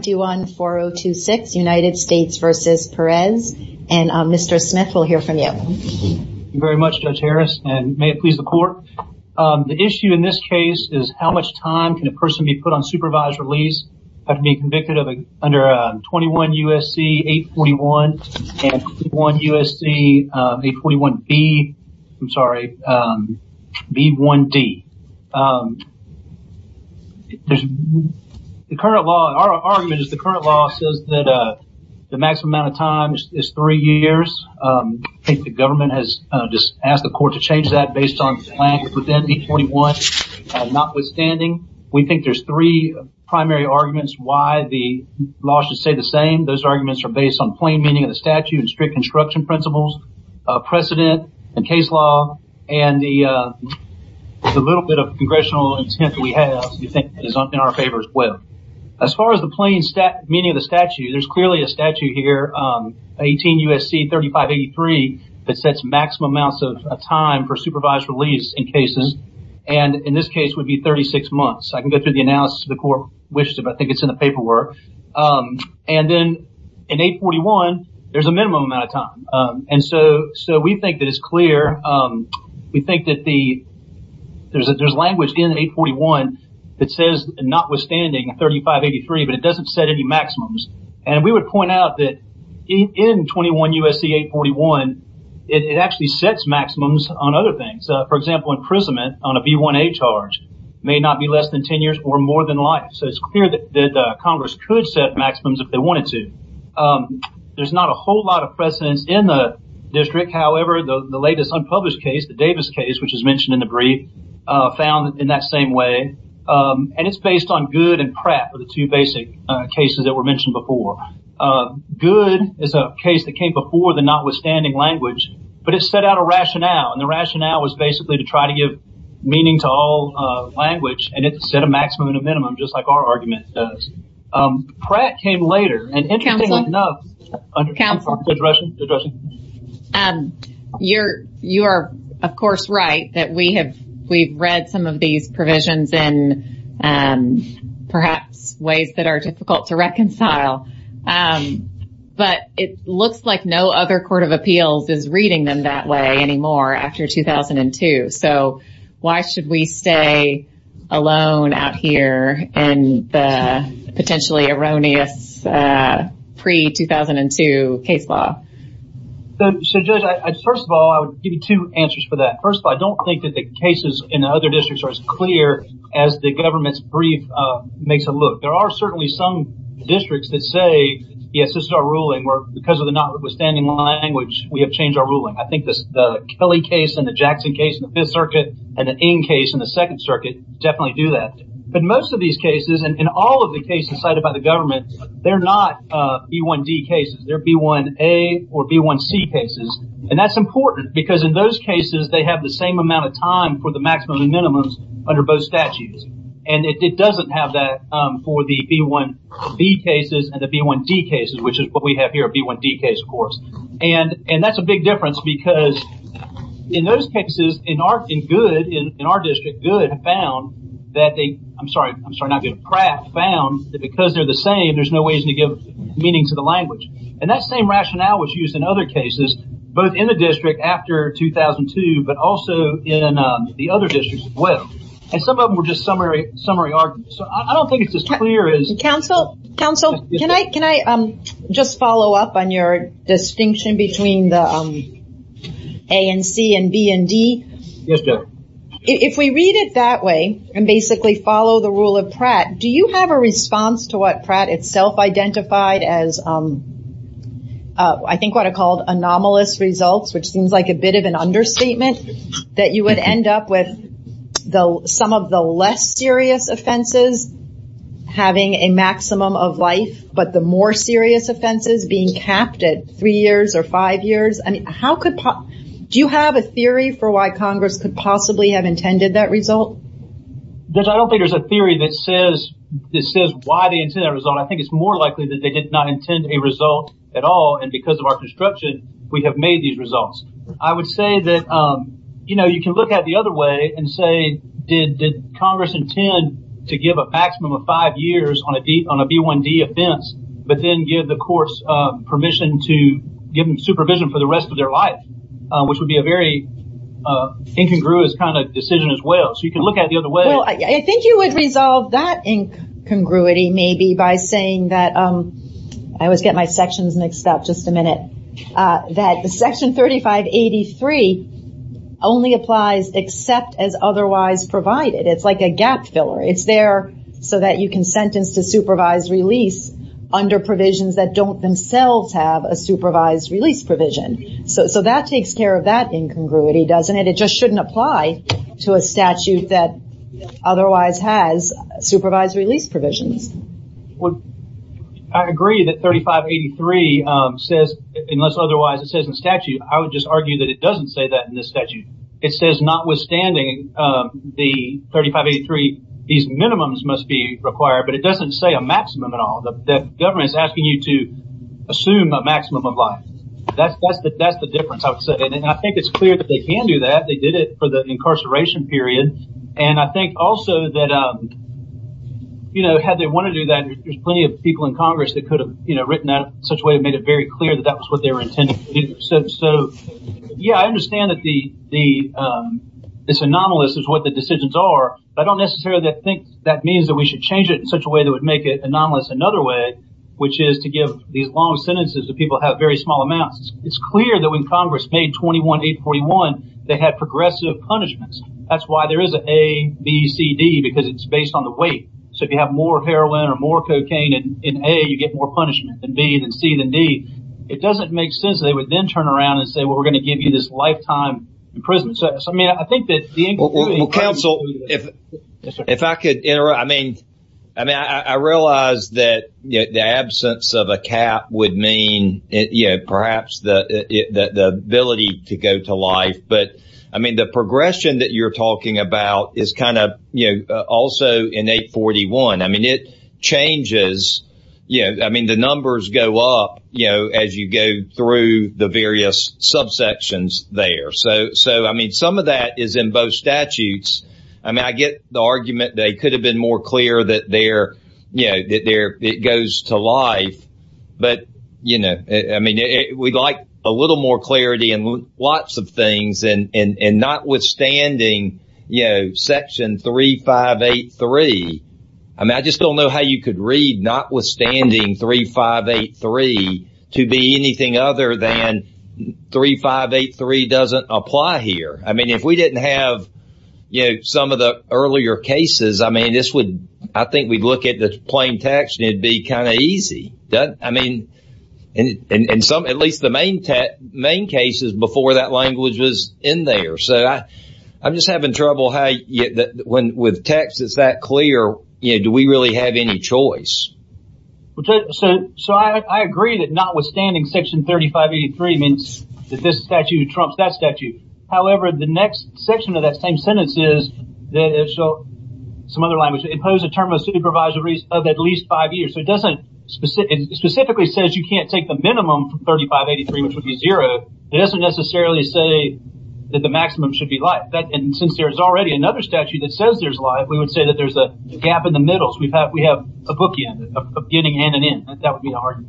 214026 United States v. Perez and Mr. Smith we'll hear from you very much Judge Harris and may it please the court the issue in this case is how much time can a person be put on supervised release have to be convicted of under 21 USC 841 and 21 USC 841B I'm sorry B1D there's the current law our argument is the current law says that the maximum amount of time is three years I think the government has just asked the court to change that based on plan within 841 notwithstanding we think there's three primary arguments why the law should say the same those arguments are based on plain meaning of the statute and strict construction principles precedent and case law and the little bit of congressional intent we have you think it is not in our favor as well as far as the plain stat meaning of the statute there's clearly a statute here 18 USC 3583 that sets maximum amounts of time for supervised release in cases and in this case would be 36 months I can go through the analysis the court wishes if I think it's in the paperwork and then in 841 there's a minimum amount of time and so so we think that it's clear we think that the there's a there's language in 841 that says notwithstanding 3583 but it doesn't set any maximums and we would point out that in 21 USC 841 it actually sets maximums on other things for example imprisonment on a b1a charge may not be less than 10 years or more than life so it's clear that Congress could set maximums if they wanted to there's not a whole lot of precedence in the district however the latest unpublished case the Davis case which is mentioned in the brief found in that same way and it's based on good and crap for the two basic cases that were mentioned before good is a case that came before the notwithstanding language but it set out a rationale and the rationale was basically to try to give meaning to all language and it set a minimum just like our argument does Pratt came later and interestingly enough under council and you're you are of course right that we have we've read some of these provisions in perhaps ways that are difficult to reconcile but it looks like no other Court of Appeals is reading them that way anymore after 2002 so why should we stay alone out here and potentially erroneous pre-2002 case law the first of all I would give you two answers for that first I don't think that the cases in other districts are as clear as the government's brief makes a look there are certainly some districts that say yes this is our ruling work because of the notwithstanding language we have changed our ruling I think this Kelly case in the Jackson case in the 5th Circuit and the N case in the 2nd Circuit definitely do that but most of these cases and all of the cases cited by the government they're not B1D cases they're B1A or B1C cases and that's important because in those cases they have the same amount of time for the maximum and minimums under both statutes and it doesn't have that for the B1B cases and the B1D cases which is what we have here a B1D case of course and that's a big difference because in those cases in our in good in our district good found that they I'm sorry I'm sorry not good crap found that because they're the same there's no reason to give meaning to the language and that same rationale was used in other cases both in the district after 2002 but also in the other districts as well and some of them were just summary summary arguments so I don't think it's as clear as counsel counsel can I can I just follow up on your distinction between the A and C and B and D if we read it that way and basically follow the rule of Pratt do you have a response to what Pratt itself identified as I think what I called anomalous results which seems like a bit of an understatement that you would end up with though some of the less serious offenses having a maximum of life but the more serious offenses being capped at three years or five years I mean how could pop do you have a theory for why Congress could possibly have intended that result there's I don't think there's a theory that says this is why they intend a result I think it's more likely that they did not intend a result at all and because of our construction we have made these results I would say that you know you can look at the other way and say did Congress intend to give a maximum of five years on a deep on a b1d offense but then give the course permission to give them supervision for the rest of their life which would be a very incongruous kind of decision as well so you can look at the other way I think you would resolve that incongruity maybe by saying that I always get my sections mixed up just a minute that the section 3583 only applies except as otherwise provided it's like a gap filler it's there so that you can sentence to supervise release under provisions that don't themselves have a supervised release provision so that takes care of that incongruity doesn't it it just shouldn't apply to a statute that otherwise has supervised release provisions well I agree that 3583 says unless otherwise it says in statute I would just argue that it doesn't say that in this statute it says not withstanding the 3583 these minimums must be required but it doesn't say a maximum at all the government is asking you to assume a maximum of life that's that's that that's the difference I would say and I think it's clear that they can do that they did it for the incarceration period and I think also that um you know had they want to do that there's plenty of people in Congress that could have you know written out such way it made it very clear that that was what they were intended to do so yeah I understand that this anomalous is what the decisions are I don't necessarily think that means that we should change it in such a way that would make it anomalous another way which is to give these long sentences that people have very small amounts it's clear that when Congress made 21 841 they had progressive punishments that's why there is a ABCD because it's based on the weight so if you have more heroin or more cocaine and in a you get more punishment than being and see the need it doesn't make sense they would then turn around and say we're going to give you this lifetime imprisonment so I mean I think that the council if if I could enter I mean I mean I realize that the absence of a cap would mean it you know perhaps the ability to go to life but I mean the progression that you're talking about is kind of you know also in 841 I mean it changes you know I mean the numbers go up you know as you go through the various subsections there so so I mean some of that is in both statutes I mean I get the argument they could have been more clear that there you know that there it goes to life but you know I mean we'd like a little more clarity and lots of things and and and notwithstanding you know section 3583 I mean I just don't know how you could read notwithstanding 3583 to be anything other than 3583 doesn't apply here I mean if we didn't have you know some of the earlier cases I mean this would I think we'd look at the plain text it'd be kind of easy done I mean and and some at least the main tech main cases before that language was in there so I I'm just having trouble how you get that when with text it's that clear you do we really have any choice okay so so I agree that notwithstanding section 3583 means that this statute Trump's that statute however the next section of that same sentence is that it's so some other language impose a term of supervisory of at least five years so it doesn't specific specifically says you can't take the minimum 3583 which would be zero it doesn't necessarily say that the maximum should be like that and since there is already another statute that says there's a lot we would say that there's a gap in the middles we've had we have a bookie of getting in and in that would be hard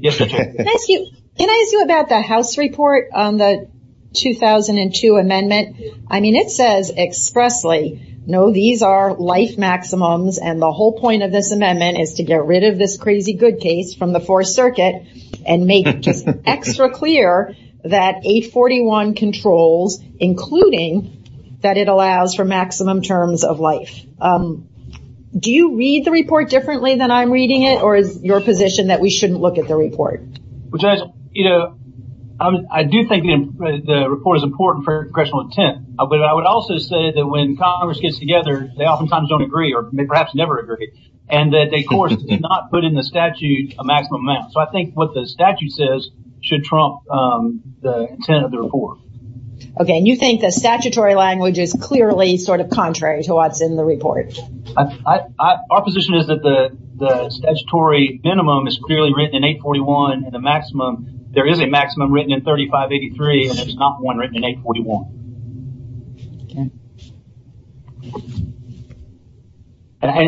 yes can I ask you about the house report on the 2002 amendment I mean it says expressly no these are life maximums and the whole point of this amendment is to get rid of this crazy good case from the fourth circuit and make it extra clear that a 41 controls including that it allows for maximum terms of life do you read the report differently than I'm reading it or is your position that we shouldn't look at the report which is you know I do think the report is important for congressional intent but I would also say that when Congress gets together they oftentimes don't agree or perhaps never agree and that they of course did not put in the statute a maximum amount so I think what the statute says should trump the intent of the report okay and you think the statutory language is clearly sort of contrary to what's in the report I our position is that the the statutory minimum is clearly written in 841 and the maximum there is a maximum written in 3583 and it's not one written in 841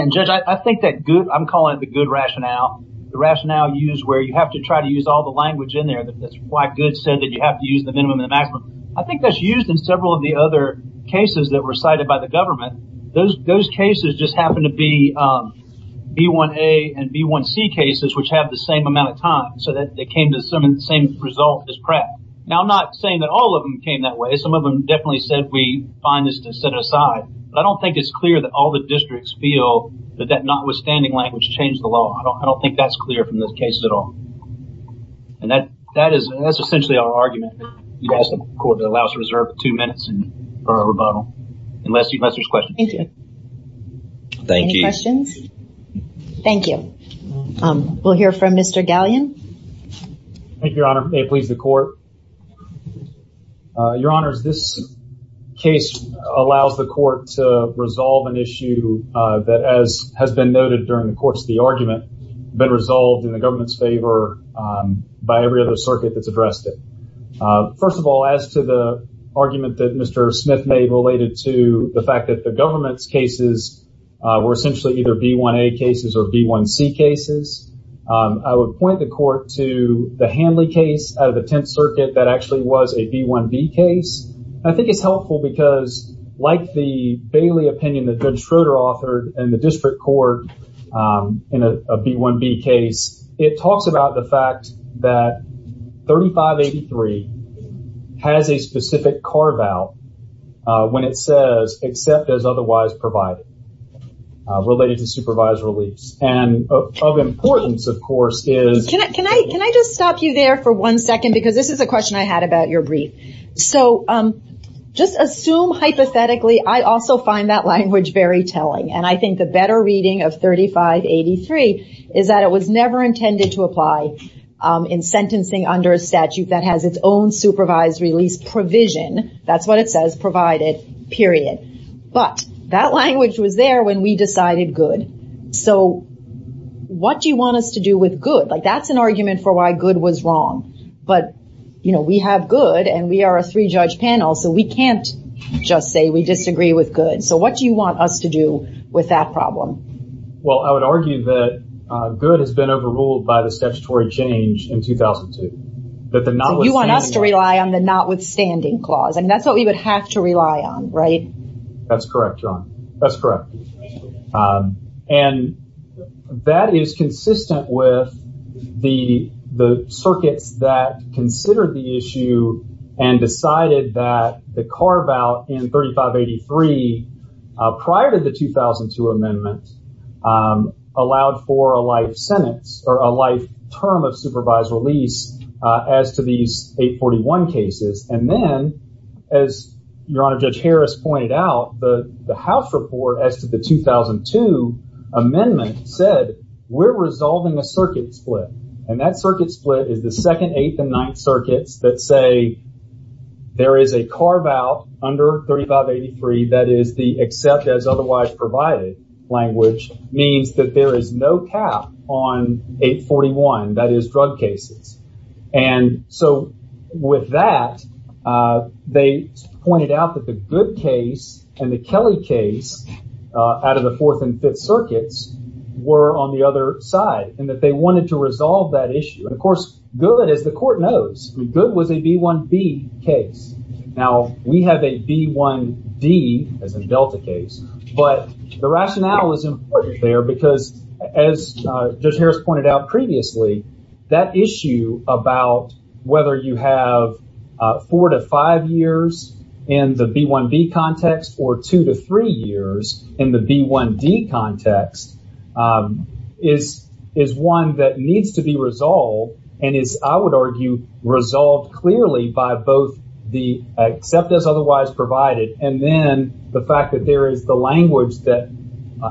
and judge I think that good I'm calling it the good rationale the rationale used where you have to try to use all the language in there that's why good said that you have to use the minimum and maximum I think that's used in several of the other cases that were cited by the government those those cases just happen to be b1a and b1c cases which have the same amount of time so that they came to some in the same result as prep now I'm not saying that all of them came that way some of them definitely said we find this to set aside but I don't think it's clear that all the districts feel that that notwithstanding language changed the law I don't think that's clear from this case at all and that that is that's essentially our argument you guys the court that allows reserve two minutes and for a rebuttal unless you musters question thank you thank you questions thank you we'll hear from mr. galleon thank your honor they please the court your honors this case allows the court to resolve an issue that as has been noted during the course of the argument been resolved in the government's favor by every other circuit that's addressed it first of all as to the argument that mr. Smith made related to the fact that the government's cases were essentially either b1a cases or b1c cases I would point the court to the Hanley case out of the Tenth Circuit that actually was a b1b case I think it's helpful because like the Bailey opinion that judge Schroeder authored and the district court in a b1b case it talks about the fact that 3583 has a specific carve-out when it says except as otherwise provided related to supervised release and of importance of course is can I can I can I just stop you there for one second because this is a question I had about your brief so just assume hypothetically I also find that language very telling and I think the better reading of 3583 is that it was never intended to apply in sentencing under a statute that has its own supervised release provision that's what it says provided period but that language was there when we decided good so what do you want us to do with good like that's an argument for why good was say we disagree with good so what do you want us to do with that problem well I would argue that good has been overruled by the statutory change in 2002 that the not you want us to rely on the notwithstanding clause and that's what we would have to rely on right that's correct John that's correct and that is consistent with the the circuits that considered the issue and decided that the carve-out in 3583 prior to the 2002 amendment allowed for a life sentence or a life term of supervised release as to these 841 cases and then as your honor judge Harris pointed out the the house report as to the 2002 amendment said we're resolving a circuit split and that circuit split is the second eighth and under 3583 that is the except as otherwise provided language means that there is no cap on 841 that is drug cases and so with that they pointed out that the good case and the Kelly case out of the fourth and fifth circuits were on the other side and that they wanted to resolve that issue and of was a b1b case now we have a b1d as a delta case but the rationale is important there because as just Harris pointed out previously that issue about whether you have four to five years in the b1b context or two to three years in the b1d context is is one that needs to be resolved and is I would argue resolved clearly by both the except as otherwise provided and then the fact that there is the language that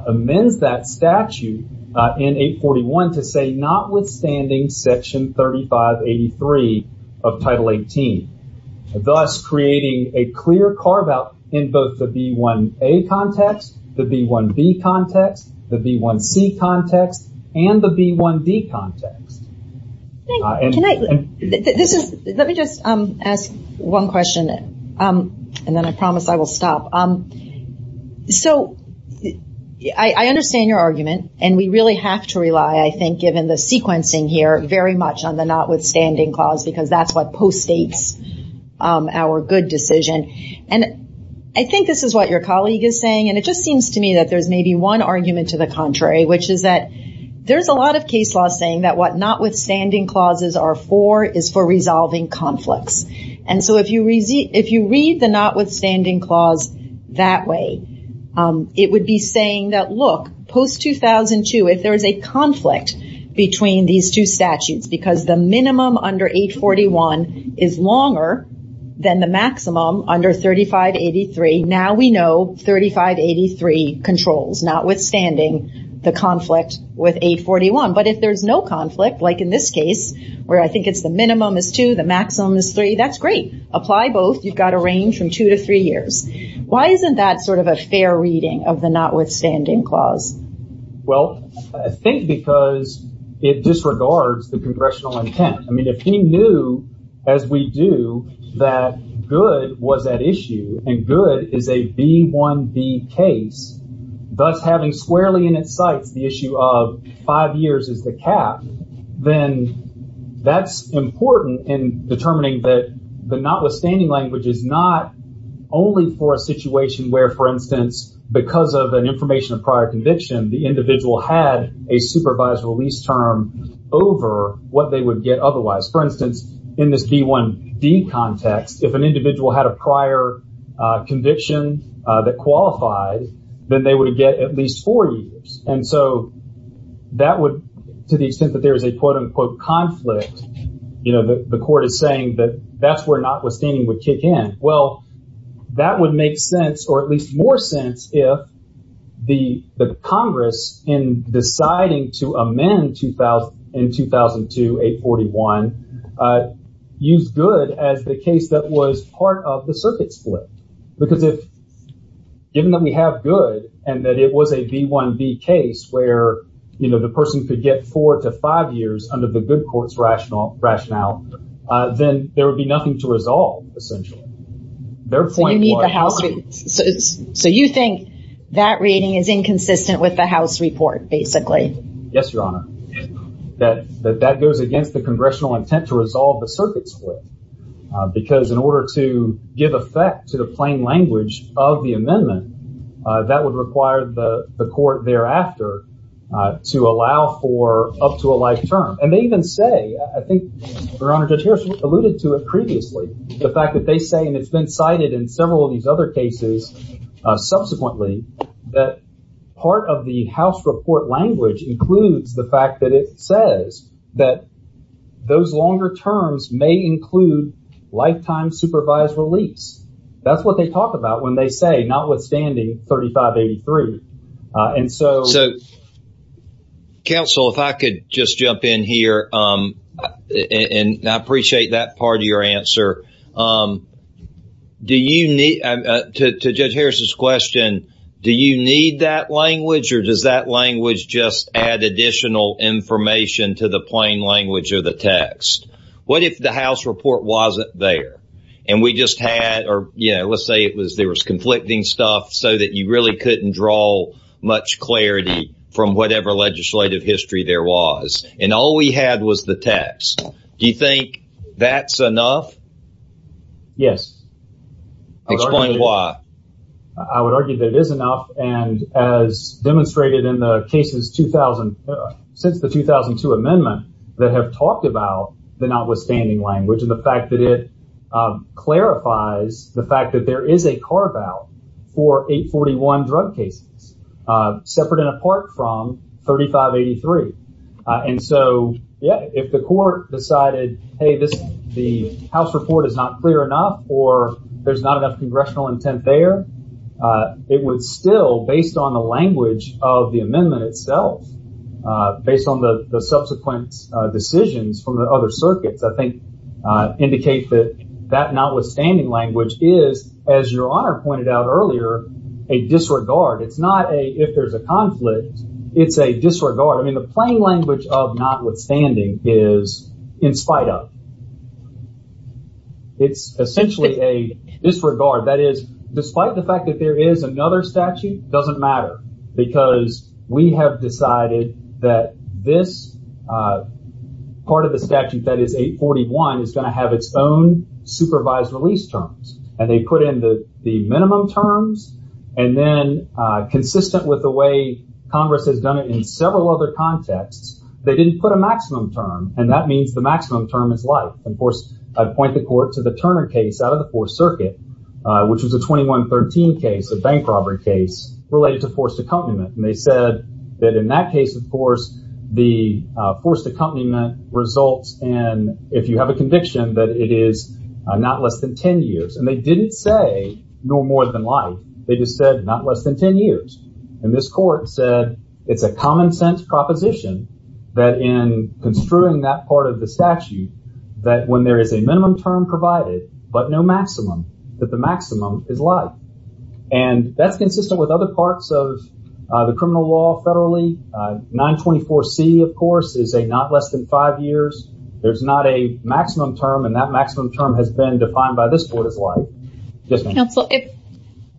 amends that statute in 841 to say notwithstanding section 3583 of title 18 thus creating a clear carve out in both the b1a context the b1b context the b1c context and the b1d context let me just ask one question and then I promise I will stop so I understand your argument and we really have to rely I think given the sequencing here very much on the notwithstanding clause because that's what post states our good decision and I think this is what your colleague is saying and it just seems to me that there's maybe one argument to the contrary which is that there's a lot of case law saying that what notwithstanding clauses are for is for resolving conflicts and so if you read the notwithstanding clause that way it would be saying that look post 2002 if there is a conflict between these two statutes because the minimum under 841 is longer than the maximum under 3583 now we know 3583 controls notwithstanding the conflict with 841 but if there's no conflict like in this case where I think it's the minimum is 2 the maximum is 3 that's great apply both you've got a range from 2 to 3 years why isn't that sort of a fair reading of the notwithstanding clause well I think because it disregards the congressional intent I mean if he knew as we do that good was at issue and good is a b1b case thus having squarely in its sights the issue of five years is the cap then that's important in determining that the notwithstanding language is not only for a situation where for instance because of an information of prior conviction the individual had a supervised release term over what they would get otherwise for instance in this b1d context if an individual had a prior conviction that qualified then they would get at least four years and so that would to the extent that there is a quote-unquote conflict you know the court is saying that that's where notwithstanding would kick in well that would make sense or at the the Congress in deciding to amend 2000 in 2002 841 used good as the case that was part of the circuit split because if given that we have good and that it was a b1b case where you know the person could get four to five years under the good courts rationale rationale then there would be nothing to that reading is inconsistent with the house report basically yes your honor that that that goes against the congressional intent to resolve the circuit split because in order to give effect to the plain language of the amendment that would require the the court thereafter to allow for up to a life term and they even say I think your honor judge Harris alluded to it previously the fact that they say and it's been cited in several of these other cases subsequently that part of the house report language includes the fact that it says that those longer terms may include lifetime supervised release that's what they talk about when they say notwithstanding 3583 and so so counsel if I could just jump in here and I appreciate that part of your answer do you need to judge Harris's question do you need that language or does that language just add additional information to the plain language of the text what if the house report wasn't there and we just had or you know let's say it was there was conflicting stuff so that you really couldn't draw much clarity from whatever legislative history there was and all we had was the text do you think that's enough yes I would argue that is enough and as demonstrated in the cases 2000 since the 2002 amendment that have talked about the notwithstanding language of the fact that it clarifies the fact that there is a carve-out for 841 drug cases separate and apart from 3583 and so yeah if the court decided hey this the house report is not clear enough or there's not enough congressional intent there it was still based on the language of the amendment itself based on the subsequent decisions from the other circuits I think indicate that that notwithstanding language is as your honor pointed out earlier a disregard it's not a if there's a conflict it's a disregard I mean the plain language of notwithstanding is in spite of it's essentially a disregard that is despite the fact that there is another statute doesn't matter because we have decided that this part of the statute that is 841 is going to have its own supervised release terms and they put in the the minimum terms and then consistent with the way Congress has done it in several other contexts they didn't put a maximum term and that means the maximum term is life and of course I'd point the court to the Turner case out of the Fourth Circuit which was a 2113 case a bank robbery case related to forced accompaniment and they said that in that case of course the forced accompaniment results and if you have a conviction that it is not less than 10 years and they didn't say no more than life they just said not less than 10 years and this court said it's a common-sense proposition that in construing that part of the statute that when there is a minimum term provided but no maximum that the maximum is life and that's consistent with other parts of the criminal law federally 924 C of course is a not less than five years there's not a maximum term and that maximum term has been defined by this board is like just council if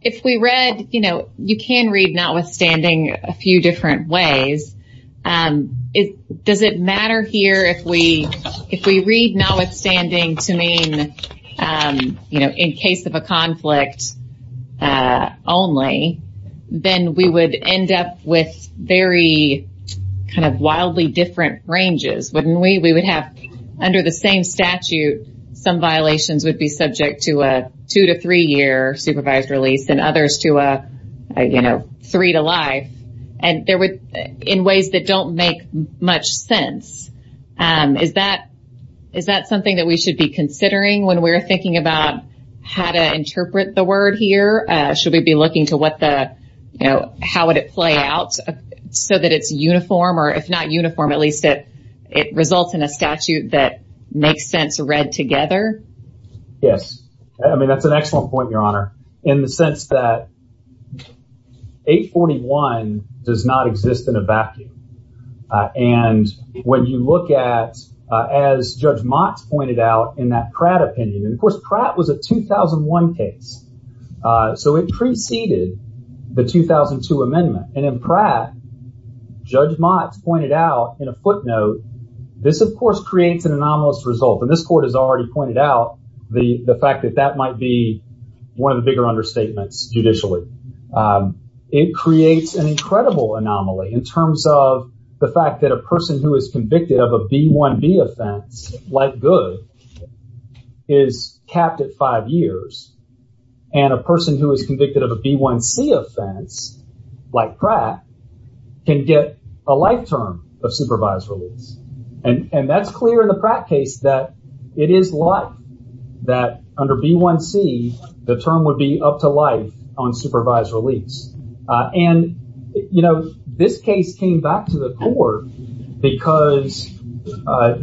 if we read you know you can read notwithstanding a few different ways it does it matter here if we if we read notwithstanding to mean you know in case of a conflict only then we would end up with very kind of wildly different ranges wouldn't we we would have under the same statute some violations would be subject to a two to three year supervised release and others to a you know three to life and there would in ways that don't make much sense is that is that something that we should be considering when we're thinking about how to interpret the word here should we be looking to what the you know how would it play out so that it's uniform or if not uniform at least it it results in a statute that makes sense read together yes I mean that's an excellent point your honor in the sense that 841 does not exist in a vacuum and when you look at as judge Mott's pointed out in that Pratt opinion and of course Pratt was a 2001 case so it preceded the pointed out in a footnote this of course creates an anomalous result and this court has already pointed out the the fact that that might be one of the bigger understatements judicially it creates an incredible anomaly in terms of the fact that a person who is convicted of a b1b offense like good is capped at five years and a person who is convicted of a b1c offense like Pratt can get a life term of supervised release and and that's clear in the Pratt case that it is like that under b1c the term would be up to life on supervised release and you know this case came back to the court because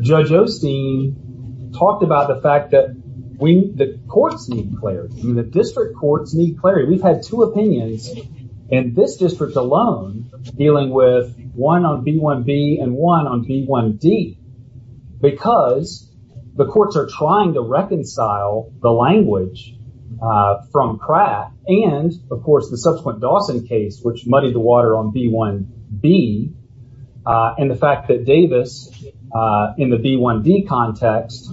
judge Osteen talked about the fact that we the courts need clarity the district courts need clarity we've had two opinions in this district alone dealing with one on b1b and one on b1d because the courts are trying to reconcile the language from Pratt and of course the subsequent Dawson case which muddied the water on b1b and the fact that Davis in the b1d context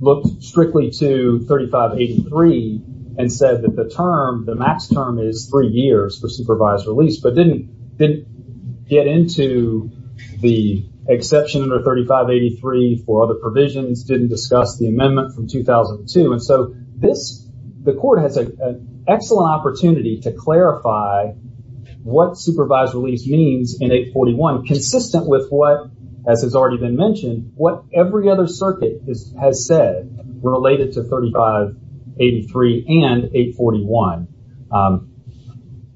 looked strictly to 3583 and said that the term the max term is three years for supervised release but didn't didn't get into the exception under 3583 for other provisions didn't discuss the amendment from 2002 and so this the court has an excellent opportunity to clarify what supervised release means in 841 consistent with what as has already been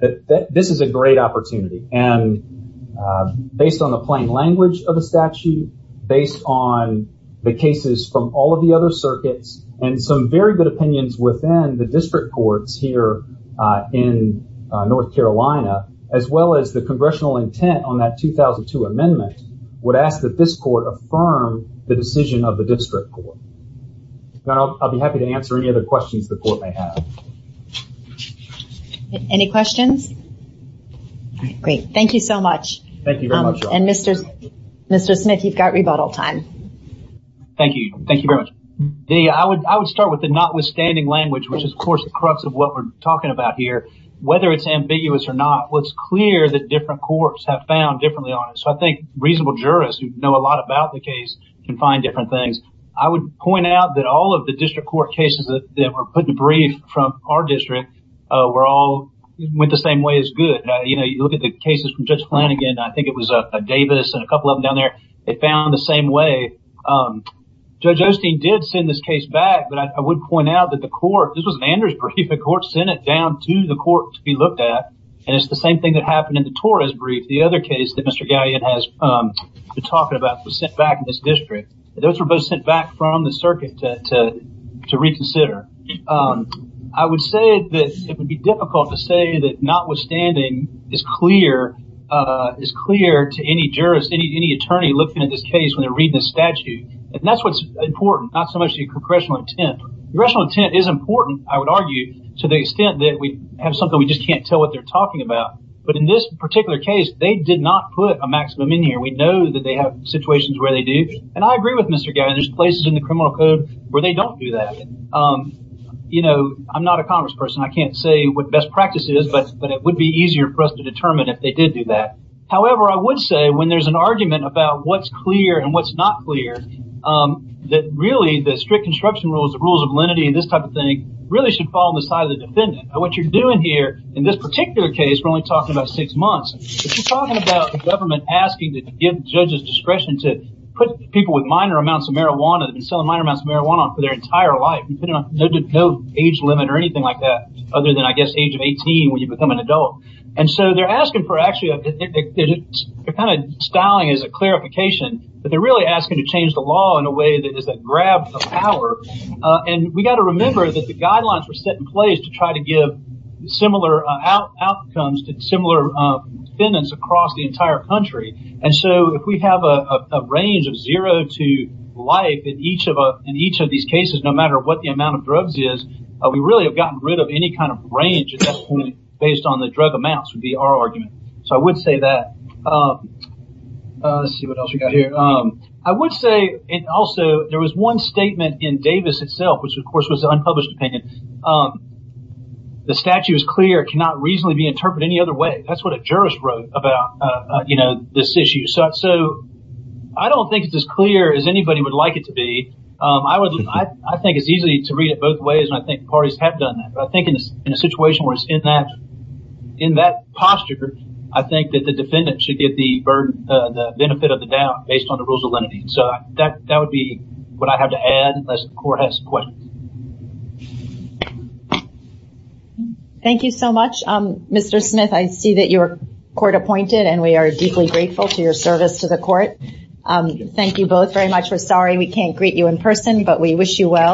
that this is a great opportunity and based on the plain language of the statute based on the cases from all of the other circuits and some very good opinions within the district courts here in North Carolina as well as the congressional intent on that 2002 amendment would ask that this court affirm the decision of the district court now I'll be happy to answer any questions the court may have any questions great thank you so much thank you very much and mr. mr. Smith you've got rebuttal time thank you thank you very much the I would I would start with the notwithstanding language which is of course the crux of what we're talking about here whether it's ambiguous or not what's clear that different courts have found differently on it so I think reasonable jurists who know a lot about the case can find different things I would point out that all of the district court cases that were put in a brief from our district we're all went the same way as good you know you look at the cases from Judge Flanagan I think it was a Davis and a couple of them down there they found the same way judge Osteen did send this case back but I would point out that the court this was an Andrews brief the court sent it down to the court to be looked at and it's the same thing that happened in the Torres brief the other case that mr. galleon has been talking about was sent back in this district those were both sent back from the circuit to reconsider I would say that it would be difficult to say that notwithstanding is clear is clear to any jurist any attorney looking at this case when they're reading this statute and that's what's important not so much the congressional intent congressional intent is important I would argue to the extent that we have something we just can't tell what they're talking about but in this particular case they did not put a maximum in here we know that they have situations where they do and I agree with mr. Gavin there's places in the criminal code where they don't do that you know I'm not a congressperson I can't say what best practices but but it would be easier for us to determine if they did do that however I would say when there's an argument about what's clear and what's not clear that really the strict construction rules the rules of lenity and this type of thing really should fall on the side of the defendant what you're doing here in this particular case we're only talking about six months government asking to give judges discretion to put people with minor amounts of marijuana and selling minor amounts of marijuana for their entire life you know no age limit or anything like that other than I guess age of 18 when you become an adult and so they're asking for actually a kind of styling is a clarification but they're really asking to change the law in a way that is that grab power and we got to remember that the guidelines were set in to try to give similar outcomes to similar defendants across the entire country and so if we have a range of zero to life in each of us in each of these cases no matter what the amount of drugs is we really have gotten rid of any kind of range at that point based on the drug amounts would be our argument so I would say that I would say and also there was one statement in Davis itself which of course was unpublished opinion the statute is clear cannot reasonably be interpreted any other way that's what a jurist wrote about you know this issue so I don't think it's as clear as anybody would like it to be I would I think it's easy to read it both ways and I think parties have done that but I think in this in a situation where it's in that in that posture I think that the defendant should get the burden the benefit of the doubt based on the rules of lenity so that that would be what I have to add unless the court has questions thank you so much mr. Smith I see that your court appointed and we are deeply grateful to your service to the court thank you both very much we're sorry we can't greet you in person but we wish you well